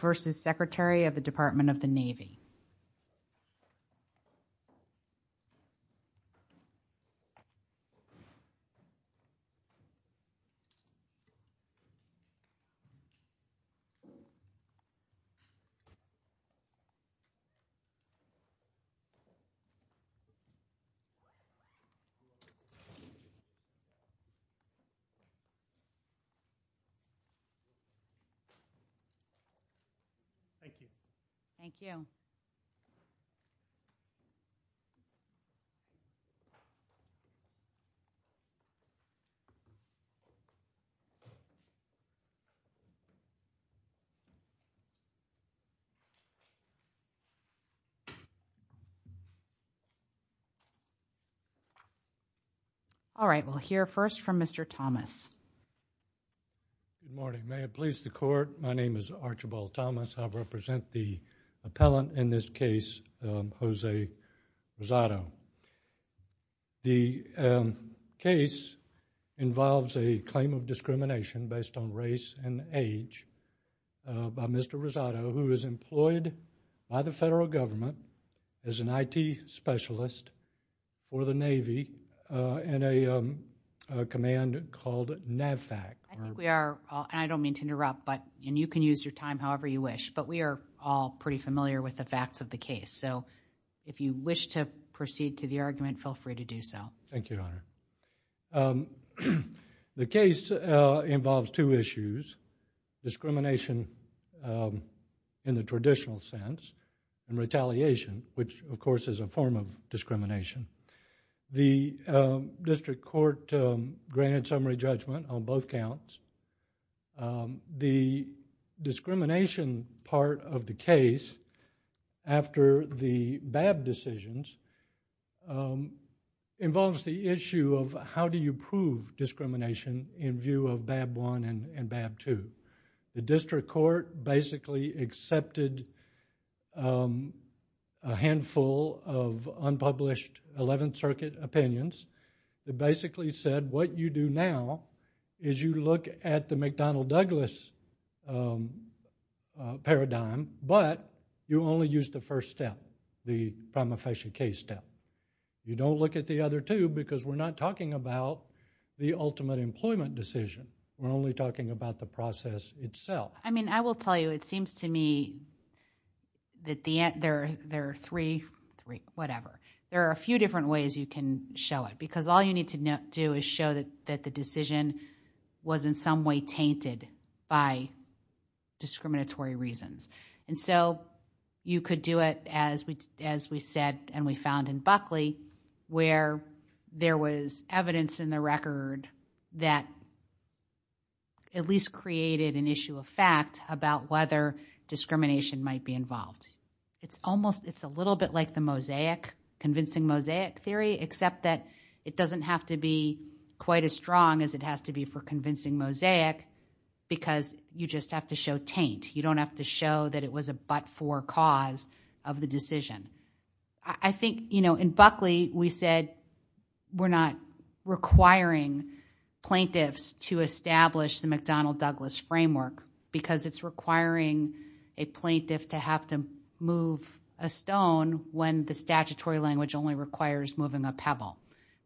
v. Secretary of the Department of the Navy. Thank you. Thank you. All right, we'll hear first from Mr. Thomas. Good morning. May it please the Court, my name is Archibald Thomas. I represent the appellant in this case, Jose Rosado. The case involves a claim of discrimination based on race and age by Mr. Rosado, who is employed by the federal government as an IT specialist for the Navy in a command called NAVFAC. I don't mean to interrupt, and you can use your time however you wish, but we are all pretty familiar with the facts of the case, so if you wish to proceed to the argument, feel free to do so. Thank you, Your Honor. The case involves two issues, discrimination in the traditional sense, and retaliation, which, of course, is a form of discrimination. The district court granted summary judgment on both counts. The discrimination part of the case, after the BAB decisions, involves the issue of how do you prove discrimination in view of BAB I and BAB II. The district court basically accepted a handful of unpublished 11th Circuit opinions. It basically said what you do now is you look at the McDonnell-Douglas paradigm, but you only use the first step, the prima facie case step. You don't look at the other two because we're not talking about the ultimate employment decision. We're only talking about the process itself. I mean, I will tell you, it seems to me that there are three, whatever, there are a few different ways you can show it because all you need to do is show that the decision was in some way tainted by discriminatory reasons. And so you could do it, as we said and we found in Buckley, where there was evidence in the record that at least created an issue of fact about whether discrimination might be involved. It's almost, it's a little bit like the mosaic, convincing mosaic theory, except that it doesn't have to be quite as strong as it has to be for convincing mosaic because you just have to show taint. You don't have to show that it was a but-for cause of the decision. I think, you know, in Buckley we said we're not requiring plaintiffs to establish the McDonnell-Douglas framework because it's requiring a plaintiff to have to move a stone when the statutory language only requires moving a pebble.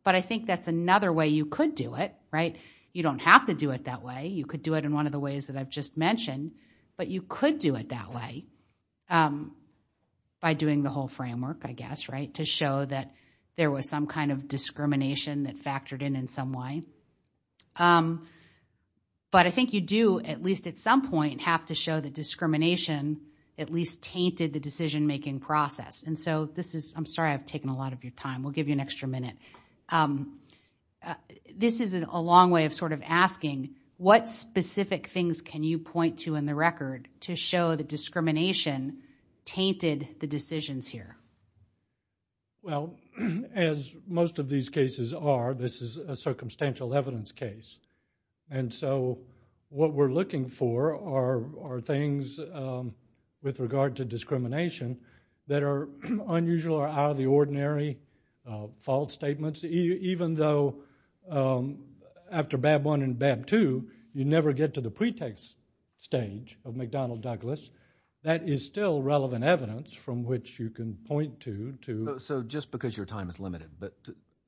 But I think that's another way you could do it, right? You don't have to do it that way. You could do it in one of the ways that I've just mentioned, but you could do it that way by doing the whole framework, I guess, right, to show that there was some kind of discrimination that factored in in some way. But I think you do, at least at some point, have to show that discrimination at least tainted the decision-making process. And so this is, I'm sorry I've taken a lot of your time. We'll give you an extra minute. This is a long way of sort of asking, what specific things can you point to in the record to show that discrimination tainted the decisions here? Well, as most of these cases are, this is a circumstantial evidence case. And so what we're looking for are things with regard to discrimination that are unusual or out of the ordinary, false statements. Even though after Bab I and Bab II, you never get to the pretext stage of McDonnell-Douglas, that is still relevant evidence from which you can point to. So just because your time is limited, but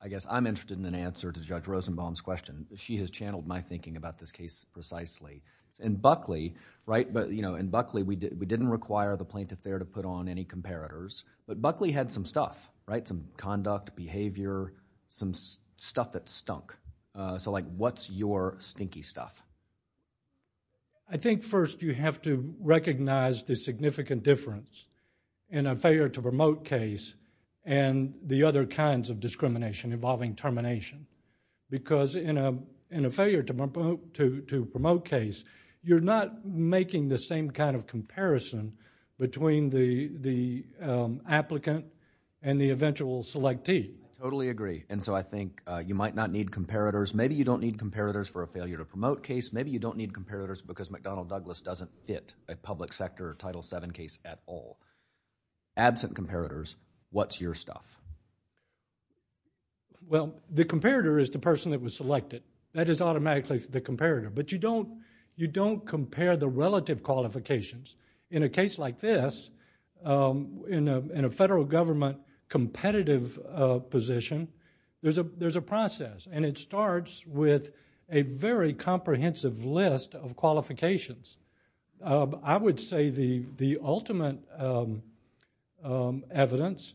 I guess I'm interested in an answer to Judge Rosenbaum's question. She has channeled my thinking about this case precisely. In Buckley, right, but you know, in Buckley, we didn't require the plaintiff there to put on any comparators. But Buckley had some stuff, right? Some conduct, behavior, some stuff that stunk. So like what's your stinky stuff? I think first you have to recognize the significant difference in a failure to promote case and the other kinds of discrimination involving termination. Because in a failure to promote case, you're not making the same kind of comparison between the applicant and the eventual selectee. Totally agree. And so I think you might not need comparators. Maybe you don't need comparators for a failure to promote case. Maybe you don't need comparators because McDonnell-Douglas doesn't fit a public sector Title VII case at all. Absent comparators, what's your stuff? Well, the comparator is the person that was selected. That is automatically the comparator. But you don't compare the relative qualifications. In a case like this, in a federal government competitive position, there's a process, and it starts with a very comprehensive list of qualifications. I would say the ultimate evidence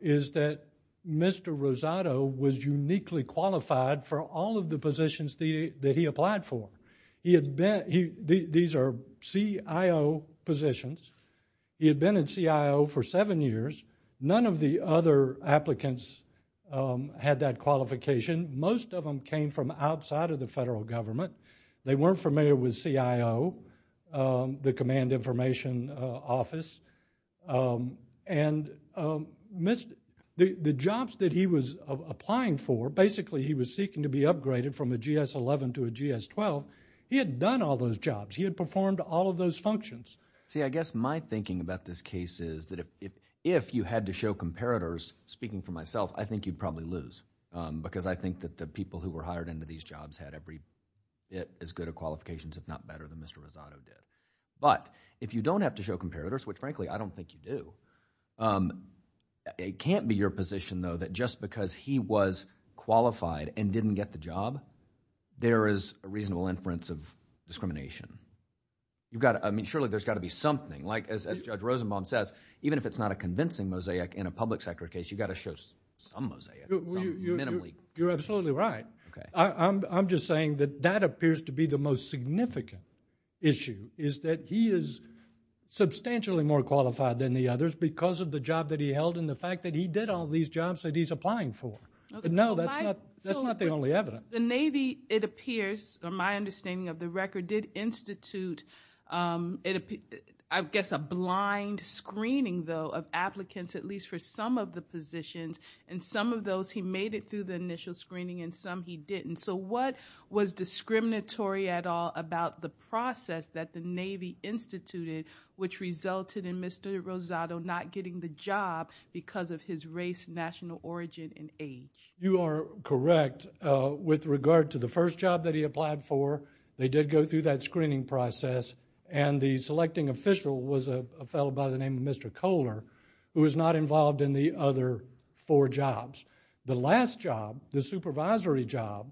is that Mr. Rosado was uniquely qualified for all of the positions that he applied for. These are CIO positions. He had been a CIO for seven years. None of the other applicants had that qualification. Most of them came from outside of the federal government. They weren't familiar with CIO, the Command Information Office. And the jobs that he was applying for, basically he was seeking to be upgraded from a GS-11 to a GS-12. He had done all those jobs. He had performed all of those functions. See, I guess my thinking about this case is that if you had to show comparators, speaking for myself, I think you'd probably lose because I think that the people who were hired into these jobs had every bit as good of qualifications, if not better, than Mr. Rosado did. But if you don't have to show comparators, which, frankly, I don't think you do, it can't be your position, though, that just because he was qualified and didn't get the job, there is a reasonable inference of discrimination. Surely, there's got to be something. As Judge Rosenbaum says, even if it's not a convincing mosaic in a public sector case, you've got to show some mosaic, some minimally. You're absolutely right. I'm just saying that that appears to be the most significant issue, is that he is substantially more qualified than the others because of the job that he held and the fact that he did all these jobs that he's applying for. But no, that's not the only evidence. The Navy, it appears, from my understanding of the record, did institute, I guess, a blind screening, though, of applicants, at least for some of the positions, and some of those he made it through the initial screening and some he didn't. So what was discriminatory at all about the process that the Navy instituted which resulted in Mr. Rosado not getting the job because of his race, national origin, and age? You are correct. With regard to the first job that he applied for, they did go through that screening process, and the selecting official was a fellow by the name of Mr. Kohler who was not involved in the other four jobs. The last job, the supervisory job,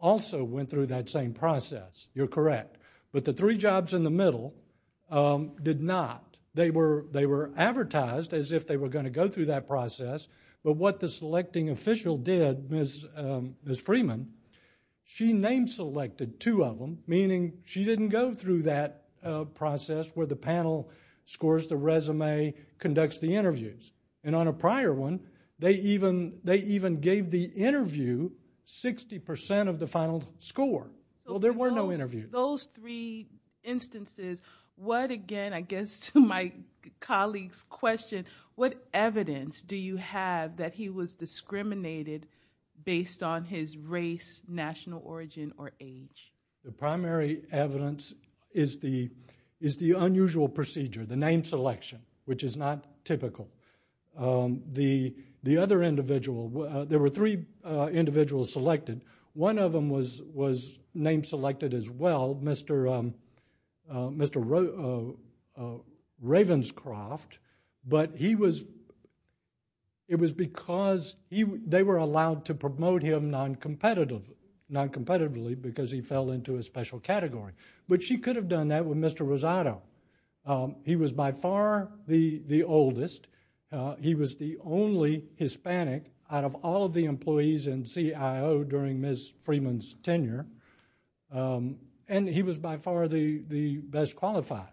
also went through that same process. You're correct. But the three jobs in the middle did not. They were advertised as if they were going to go through that process, but what the selecting official did, Ms. Freeman, she name-selected two of them, meaning she didn't go through that process where the panel scores the resume, conducts the interviews. And on a prior one, they even gave the interview 60% of the final score. Well, there were no interviews. Those three instances, what, again, I guess to my colleague's question, what evidence do you have that he was discriminated based on his race, national origin, or age? The primary evidence is the unusual procedure, the name selection, which is not typical. The other individual, there were three individuals selected. One of them was name-selected as well, Mr. Ravenscroft, but it was because they were allowed to promote him noncompetitively because he fell into a special category. But she could have done that with Mr. Rosado. He was by far the oldest. He was the only Hispanic out of all of the employees in CIO during Ms. Freeman's tenure. And he was by far the best qualified.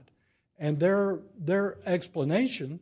And their explanation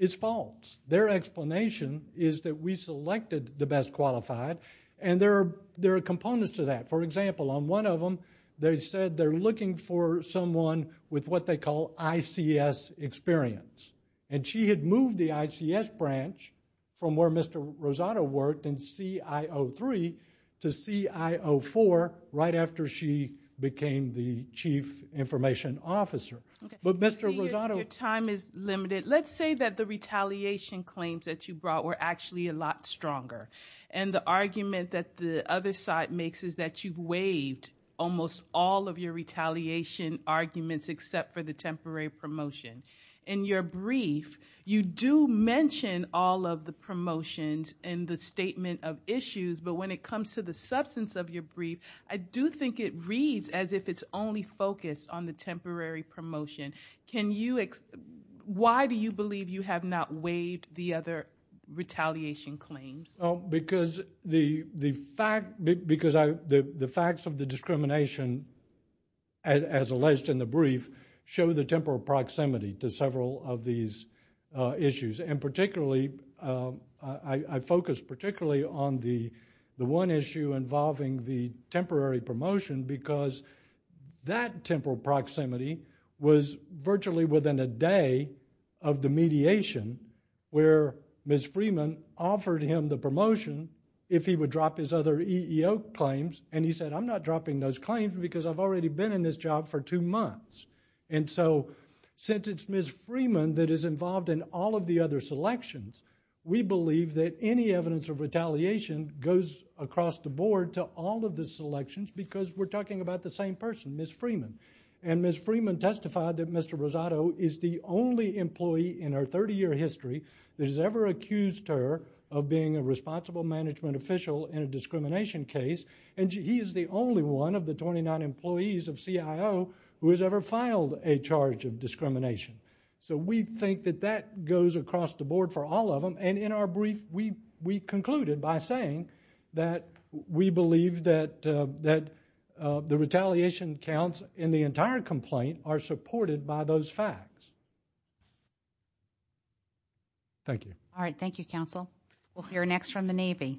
is false. Their explanation is that we selected the best qualified, and there are components to that. For example, on one of them, they said they're looking for someone with what they call ICS experience. And she had moved the ICS branch from where Mr. Rosado worked in CIO 3 to CIO 4 right after she became the chief information officer. But Mr. Rosado... Your time is limited. Let's say that the retaliation claims that you brought were actually a lot stronger. And the argument that the other side makes is that you've waived almost all of your retaliation arguments except for the temporary promotion. In your brief, you do mention all of the promotions and the statement of issues. But when it comes to the substance of your brief, I do think it reads as if it's only focused on the temporary promotion. Why do you believe you have not waived the other retaliation claims? Because the facts of the discrimination, as alleged in the brief, show the temporal proximity to several of these issues. And particularly, I focus particularly on the one issue involving the temporary promotion because that temporal proximity was virtually within a day of the mediation where Ms. Freeman offered him the promotion if he would drop his other EEO claims. And he said, I'm not dropping those claims because I've already been in this job for two months. And so since it's Ms. Freeman that is involved in all of the other selections, we believe that any evidence of retaliation goes across the board to all of the selections because we're talking about the same person, Ms. Freeman. And Ms. Freeman testified that Mr. Rosado is the only employee in her 30-year history that has ever accused her of being a responsible management official in a discrimination case. And he is the only one of the 29 employees of CIO who has ever filed a charge of discrimination. So we think that that goes across the board for all of them. And in our brief, we concluded by saying that we believe that the retaliation counts in the entire complaint are supported by those facts. Thank you. We'll hear next from the Navy.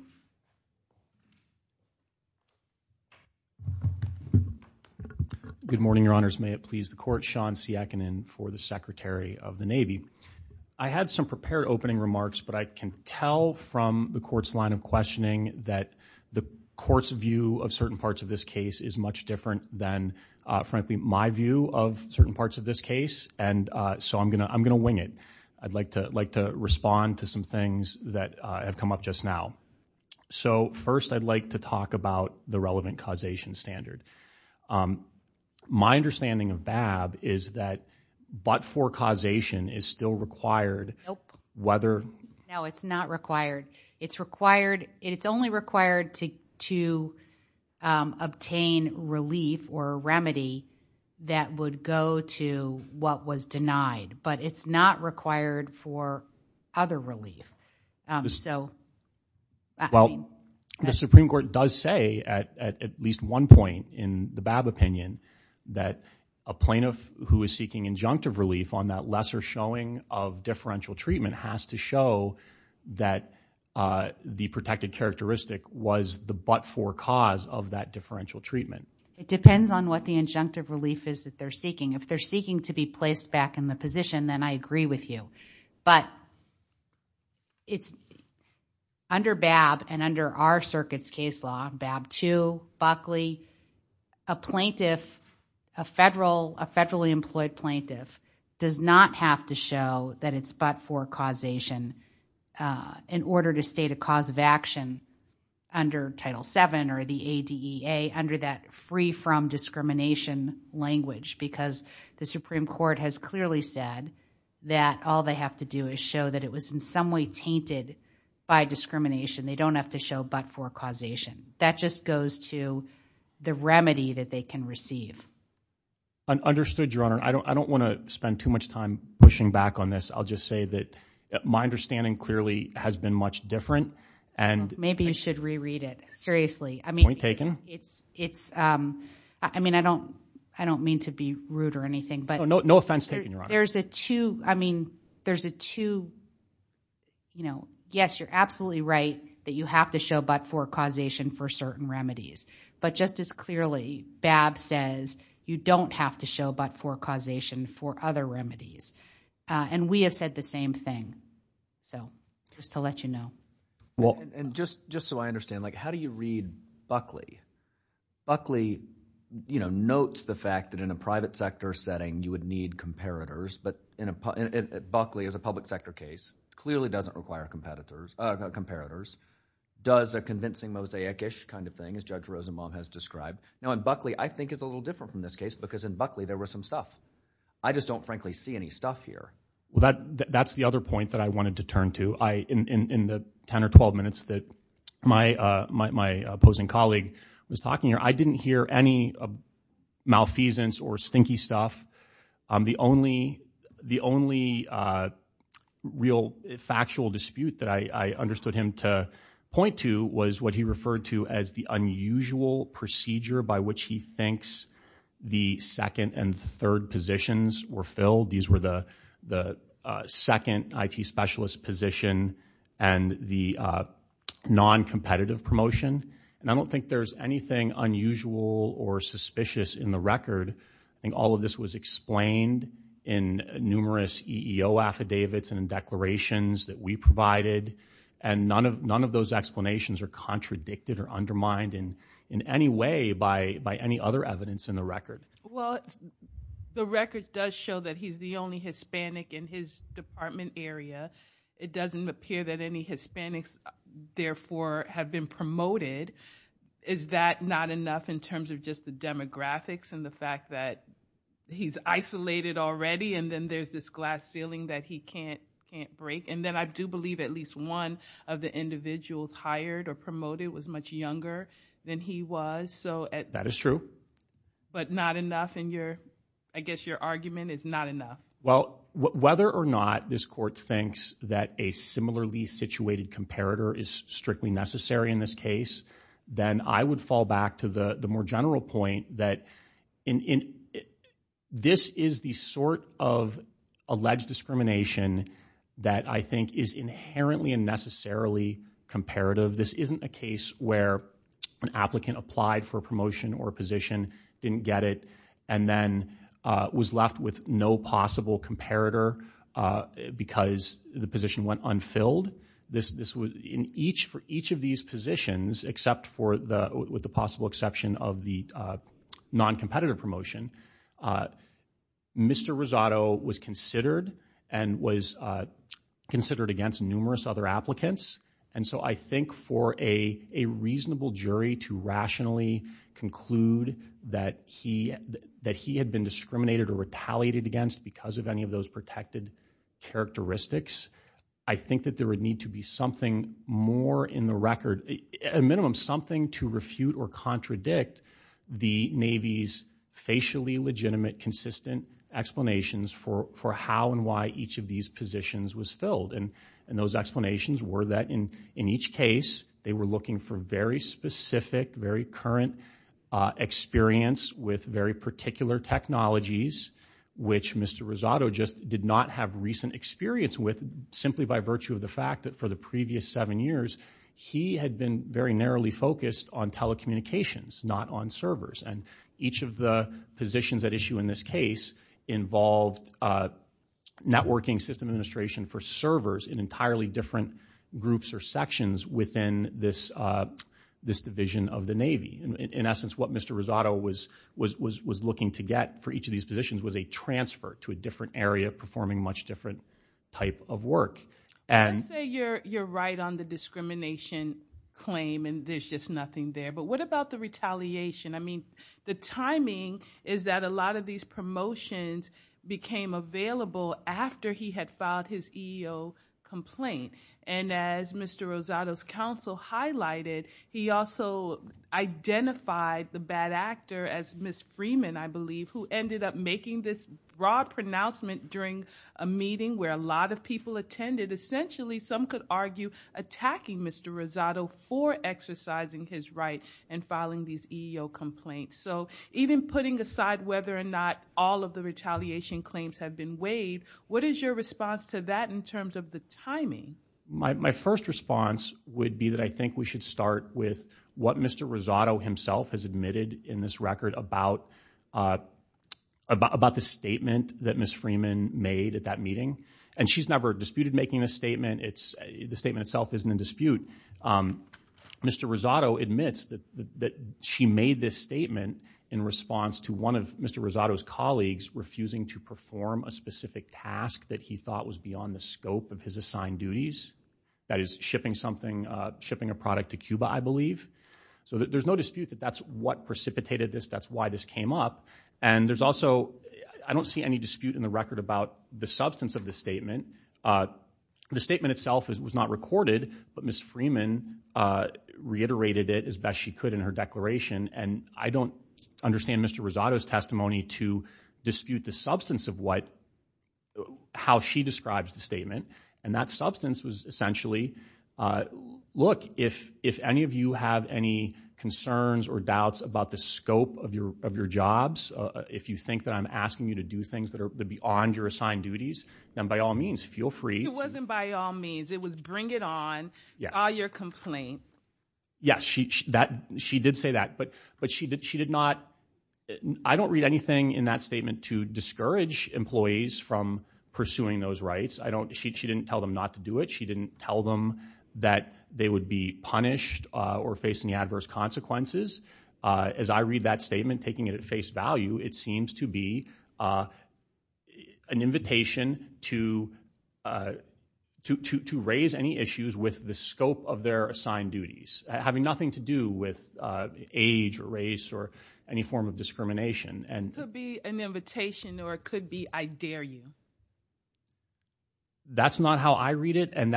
Good morning, Your Honors. May it please the Court. Sean Siakinin for the Secretary of the Navy. I had some prepared opening remarks, but I can tell from the Court's line of questioning that the Court's view of certain parts of this case is much different than, frankly, my view of certain parts of this case. And so I'm going to wing it. I'd like to respond to some things that have come up just now. So first, I'd like to talk about the relevant causation standard. My understanding of BAB is that but-for causation is still required. Nope. Whether... No, it's not required. It's only required to obtain relief or a remedy that would go to what was denied. But it's not required for other relief. So... Well, the Supreme Court does say at least one point in the BAB opinion that a plaintiff who is seeking injunctive relief on that lesser showing of differential treatment has to show that the protected characteristic was the but-for cause of that differential treatment. It depends on what the injunctive relief is that they're seeking. If they're seeking to be placed back in the position, then I agree with you. But it's... Under BAB and under our circuit's case law, BAB 2, Buckley, a plaintiff, a federally employed plaintiff, does not have to show that it's but-for causation in order to state a cause of action under Title VII or the ADEA under that free-from-discrimination language because the Supreme Court has clearly said that all they have to do is show that it was in some way tainted by discrimination. They don't have to show but-for causation. That just goes to the remedy that they can receive. Understood, Your Honor. I don't want to spend too much time pushing back on this. I'll just say that my understanding clearly has been much different. Maybe you should reread it. Seriously. Point taken. It's... I mean, I don't mean to be rude or anything, but... No offense taken, Your Honor. There's a two... I mean, there's a two... You know, yes, you're absolutely right that you have to show but-for causation for certain remedies, but just as clearly BAB says you don't have to show but-for causation for other remedies. And we have said the same thing. So, just to let you know. And just so I understand, like, how do you read Buckley? Buckley, you know, notes the fact that in a private sector setting you would need comparators. But Buckley, as a public sector case, clearly doesn't require comparators. Does a convincing mosaic-ish kind of thing, as Judge Rosenbaum has described. Now, in Buckley, I think it's a little different from this case because in Buckley there was some stuff. I just don't frankly see any stuff here. Well, that's the other point that I wanted to turn to. In the ten or twelve minutes that my opposing colleague was talking, I didn't hear any malfeasance or stinky stuff. The only real factual dispute that I understood him to point to was what he referred to as the unusual procedure by which he thinks the second and third positions were filled. These were the second IT specialist position and the non-competitive promotion. And I don't think there's anything unusual or suspicious in the record. I think all of this was explained in numerous EEO affidavits and in declarations that we provided. And none of those explanations are contradicted or undermined in any way by any other evidence in the record. Well, the record does show that he's the only Hispanic in his department area. It doesn't appear that any Hispanics, therefore, have been promoted. Is that not enough in terms of just the demographics and the fact that he's isolated already and then there's this glass ceiling that he can't break? And then I do believe at least one of the individuals hired or promoted was much younger than he was. That is true. But not enough, and I guess your argument is not enough. Well, whether or not this court thinks that a similarly situated comparator is strictly necessary in this case, then I would fall back to the more general point that this is the sort of alleged discrimination that I think is inherently and necessarily comparative. This isn't a case where an applicant applied for a promotion or a position, didn't get it, and then was left with no possible comparator because the position went unfilled. For each of these positions, except with the possible exception of the noncompetitive promotion, Mr. Rosado was considered and was considered against numerous other applicants. And so I think for a reasonable jury to rationally conclude that he had been discriminated or retaliated against because of any of those protected characteristics, I think that there would need to be something more in the record, at a minimum something to refute or contradict the Navy's facially legitimate, consistent explanations for how and why each of these positions was filled. And those explanations were that in each case they were looking for very specific, very current experience with very particular technologies, which Mr. Rosado just did not have recent experience with simply by virtue of the fact that for the previous seven years he had been very narrowly focused on telecommunications, not on servers. And each of the positions at issue in this case involved networking system administration for servers in entirely different groups or sections within this division of the Navy. In essence, what Mr. Rosado was looking to get for each of these positions was a transfer to a different area performing a much different type of work. Let's say you're right on the discrimination claim and there's just nothing there, but what about the retaliation? I mean, the timing is that a lot of these promotions became available after he had filed his EEO complaint. And as Mr. Rosado's counsel highlighted, he also identified the bad actor as Ms. Freeman, I believe, who ended up making this broad pronouncement during a meeting where a lot of people attended. Essentially, some could argue attacking Mr. Rosado for exercising his right and filing these EEO complaints. So even putting aside whether or not all of the retaliation claims have been waived, what is your response to that in terms of the timing? My first response would be that I think we should start with what Mr. Rosado himself has admitted in this record about the statement that Ms. Freeman made at that meeting. And she's never disputed making this statement. The statement itself isn't in dispute. Mr. Rosado admits that she made this statement in response to one of Mr. Rosado's colleagues refusing to perform a specific task that he thought was beyond the scope of his assigned duties. That is, shipping something, shipping a product to Cuba, I believe. So there's no dispute that that's what precipitated this, that's why this came up. And there's also, I don't see any dispute in the record about the substance of the statement. The statement itself was not recorded, but Ms. Freeman reiterated it as best she could in her declaration. And I don't understand Mr. Rosado's testimony to dispute the substance of how she describes the statement. And that substance was essentially, look, if any of you have any concerns or doubts about the scope of your jobs, if you think that I'm asking you to do things that are beyond your assigned duties, then by all means, feel free to... It wasn't by all means, it was bring it on, file your complaint. Yes, she did say that, but she did not... I don't read anything in that statement to discourage employees from pursuing those rights. She didn't tell them not to do it. She didn't tell them that they would be punished or face any adverse consequences. As I read that statement, taking it at face value, it seems to be an invitation to raise any issues with the scope of their assigned duties, having nothing to do with age or race or any form of discrimination. It could be an invitation or it could be, I dare you. That's not how I read it, and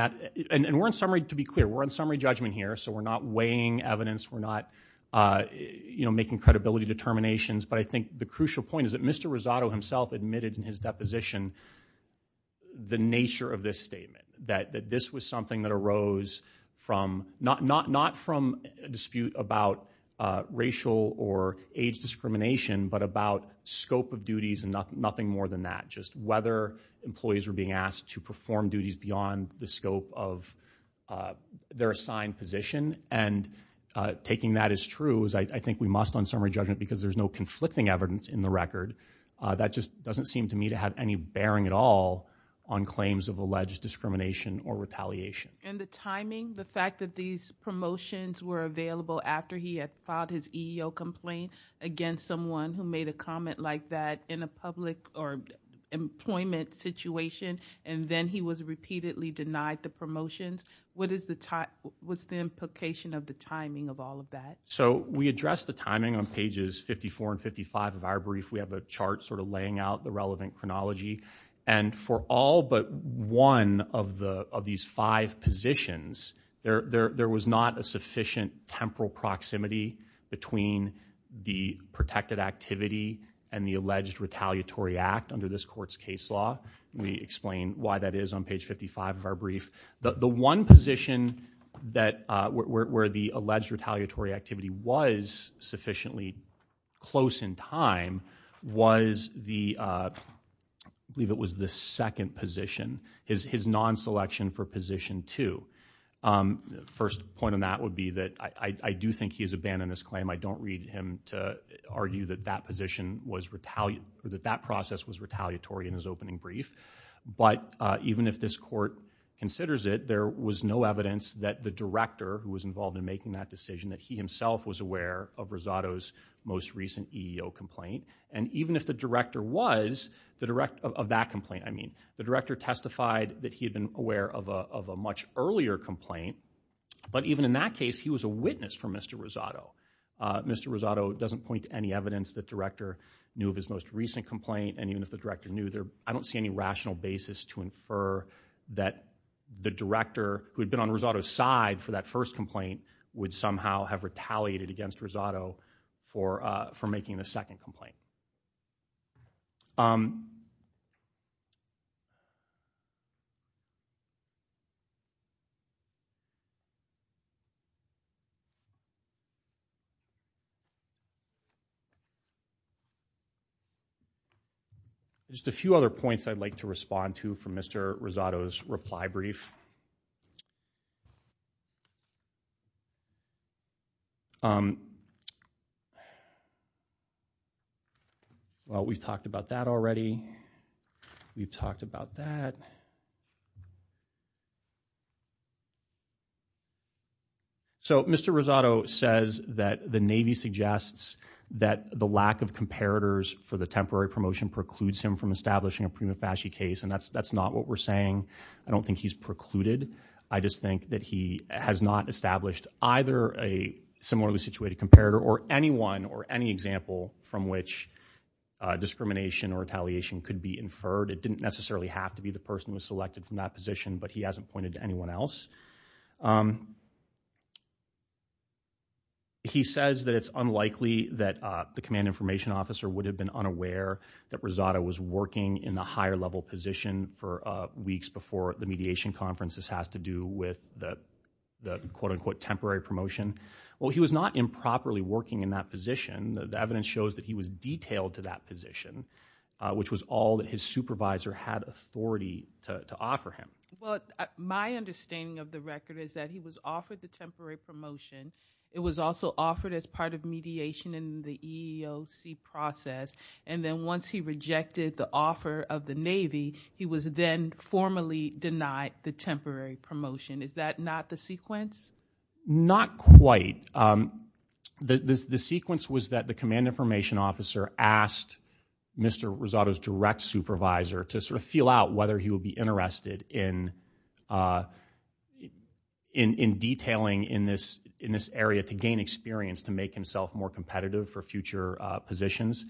we're in summary, to be clear, we're in summary judgment here, so we're not weighing evidence, we're not making credibility determinations, but I think the crucial point is that Mr. Rosato himself admitted in his deposition the nature of this statement, that this was something that arose not from a dispute about racial or age discrimination, but about scope of duties and nothing more than that, just whether employees were being asked to perform duties beyond the scope of their assigned position, and taking that as true, I think we must on summary judgment because there's no conflicting evidence in the record, that just doesn't seem to me to have any bearing at all on claims of alleged discrimination or retaliation. And the timing, the fact that these promotions were available after he had filed his EEO complaint against someone who made a comment like that in a public or employment situation, and then he was repeatedly denied the promotions, what's the implication of the timing of all of that? So we address the timing on pages 54 and 55 of our brief, we have a chart sort of laying out the relevant chronology, and for all but one of these five positions, there was not a sufficient temporal proximity between the protected activity and the alleged retaliatory act under this court's case law, we explain why that is on page 55 of our brief. The one position where the alleged retaliatory activity was sufficiently close in time was the, I believe it was the second position, his non-selection for position two. First point on that would be that I do think he has abandoned this claim, I don't read him to argue that that position was retaliated, that that process was retaliatory in his opening brief, but even if this court considers it, there was no evidence that the director who was involved in making that decision, that he himself was aware of Rosado's most recent EEO complaint, and even if the director was, of that complaint I mean, the director testified that he had been aware of a much earlier complaint, but even in that case he was a witness for Mr. Rosado. Mr. Rosado doesn't point to any evidence that the director knew of his most recent complaint, and even if the director knew, I don't see any rational basis to infer that the director who had been on Rosado's side for that first complaint would somehow have retaliated against Rosado for making the second complaint. Just a few other points I'd like to respond to from Mr. Rosado's reply brief. Well, we've talked about that already. We've talked about that. So Mr. Rosado says that the Navy suggests that the lack of comparators for the temporary promotion precludes him from establishing a prima facie case, and that's not what we're saying. I don't think he's precluded. I just think that he has not established either a similarly situated comparator or anyone or any example from which discrimination or retaliation could be inferred. It didn't necessarily have to be the person who was selected from that position, but he hasn't pointed to anyone else. He says that it's unlikely that the command information officer would have been unaware that Rosado was working in the higher-level position for weeks before the mediation conference. This has to do with the quote-unquote temporary promotion. Well, he was not improperly working in that position. The evidence shows that he was detailed to that position, which was all that his supervisor had authority to offer him. Well, my understanding of the record is that he was offered the temporary promotion. It was also offered as part of mediation in the EEOC process, and then once he rejected the offer of the Navy, he was then formally denied the temporary promotion. Is that not the sequence? Not quite. The sequence was that the command information officer asked Mr. Rosado's direct supervisor to sort of feel out whether he would be interested in detailing in this area to gain experience to make himself more competitive for future positions.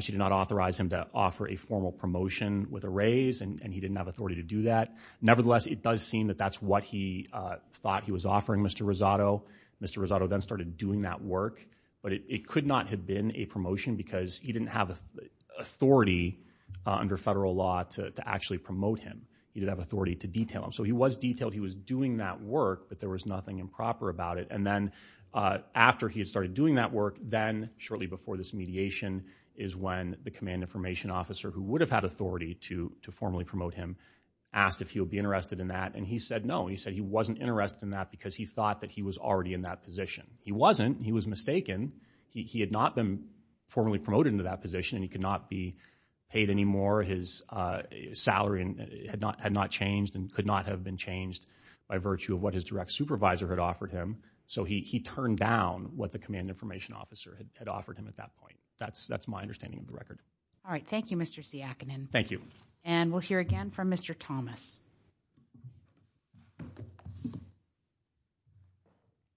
She did not authorize him to offer a formal promotion with a raise, and he didn't have authority to do that. Nevertheless, it does seem that that's what he thought he was offering Mr. Rosado. Mr. Rosado then started doing that work, but it could not have been a promotion because he didn't have authority under federal law to actually promote him. He didn't have authority to detail him. So he was detailed. He was doing that work, but there was nothing improper about it. And then after he had started doing that work, then shortly before this mediation is when the command information officer, who would have had authority to formally promote him, asked if he would be interested in that, and he said no. He said he wasn't interested in that because he thought that he was already in that position. He wasn't. He was mistaken. He had not been formally promoted into that position, and he could not be paid anymore. His salary had not changed and could not have been changed by virtue of what his direct supervisor had offered him. So he turned down what the command information officer had offered him at that point. That's my understanding of the record. All right. Thank you, Mr. Siakinin. Thank you. And we'll hear again from Mr. Thomas.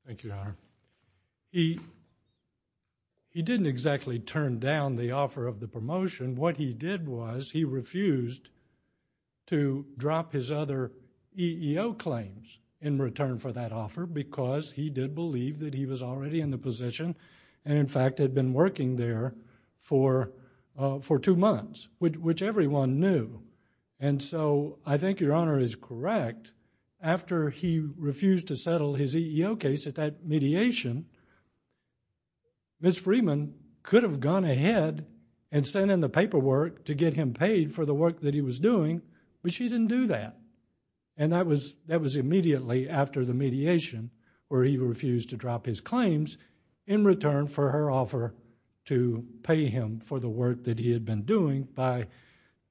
Thank you, Your Honor. He didn't exactly turn down the offer of the promotion. What he did was he refused to drop his other EEO claims in return for that offer because he did believe that he was already in the position and, in fact, had been working there for two months, which everyone knew. And so I think Your Honor is correct. After he refused to settle his EEO case at that mediation, Ms. Freeman could have gone ahead and sent in the paperwork to get him paid for the work that he was doing, but she didn't do that. And that was immediately after the mediation where he refused to drop his claims in return for her offer to pay him for the work that he had been doing by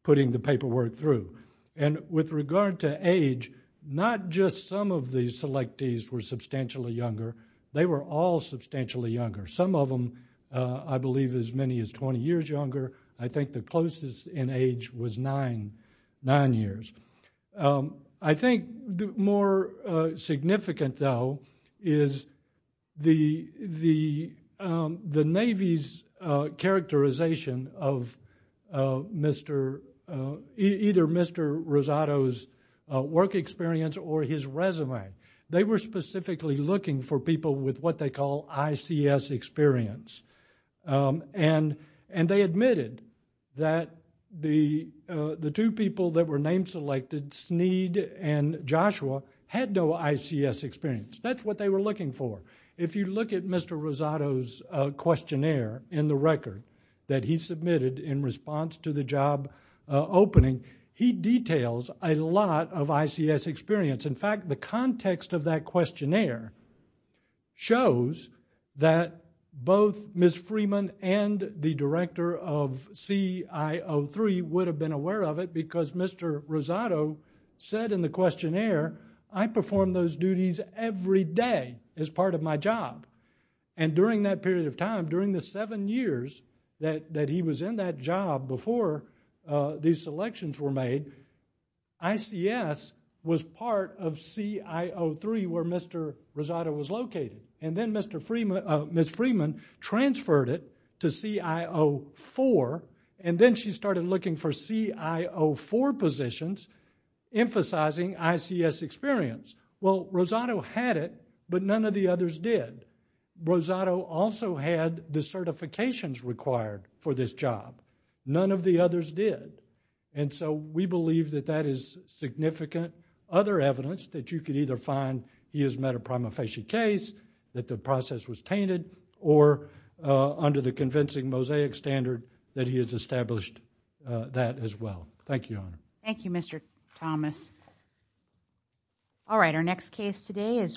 putting the paperwork through. And with regard to age, not just some of the selectees were substantially younger. They were all substantially younger. Some of them, I believe, as many as 20 years younger. I think the closest in age was nine years. I think more significant, though, is the Navy's characterization of either Mr. Rosado's work experience or his resume. They were specifically looking for people with what they call ICS experience. And they admitted that the two people that were name-selected, Sneed and Joshua, had no ICS experience. That's what they were looking for. If you look at Mr. Rosado's questionnaire in the record that he submitted in response to the job opening, he details a lot of ICS experience. In fact, the context of that questionnaire shows that both Ms. Freeman and the director of CIO3 would have been aware of it because Mr. Rosado said in the questionnaire, I perform those duties every day as part of my job. And during that period of time, during the seven years that he was in that job before these selections were made, ICS was part of CIO3 where Mr. Rosado was located. And then Ms. Freeman transferred it to CIO4, and then she started looking for CIO4 positions, emphasizing ICS experience. Well, Rosado had it, but none of the others did. Rosado also had the certifications required for this job. None of the others did. And so we believe that that is significant. Other evidence that you could either find he has met a prima facie case, that the process was tainted, or under the convincing Mosaic standard that he has established that as well. Thank you, Your Honor. Thank you, Mr. Thomas. All right, our next case today is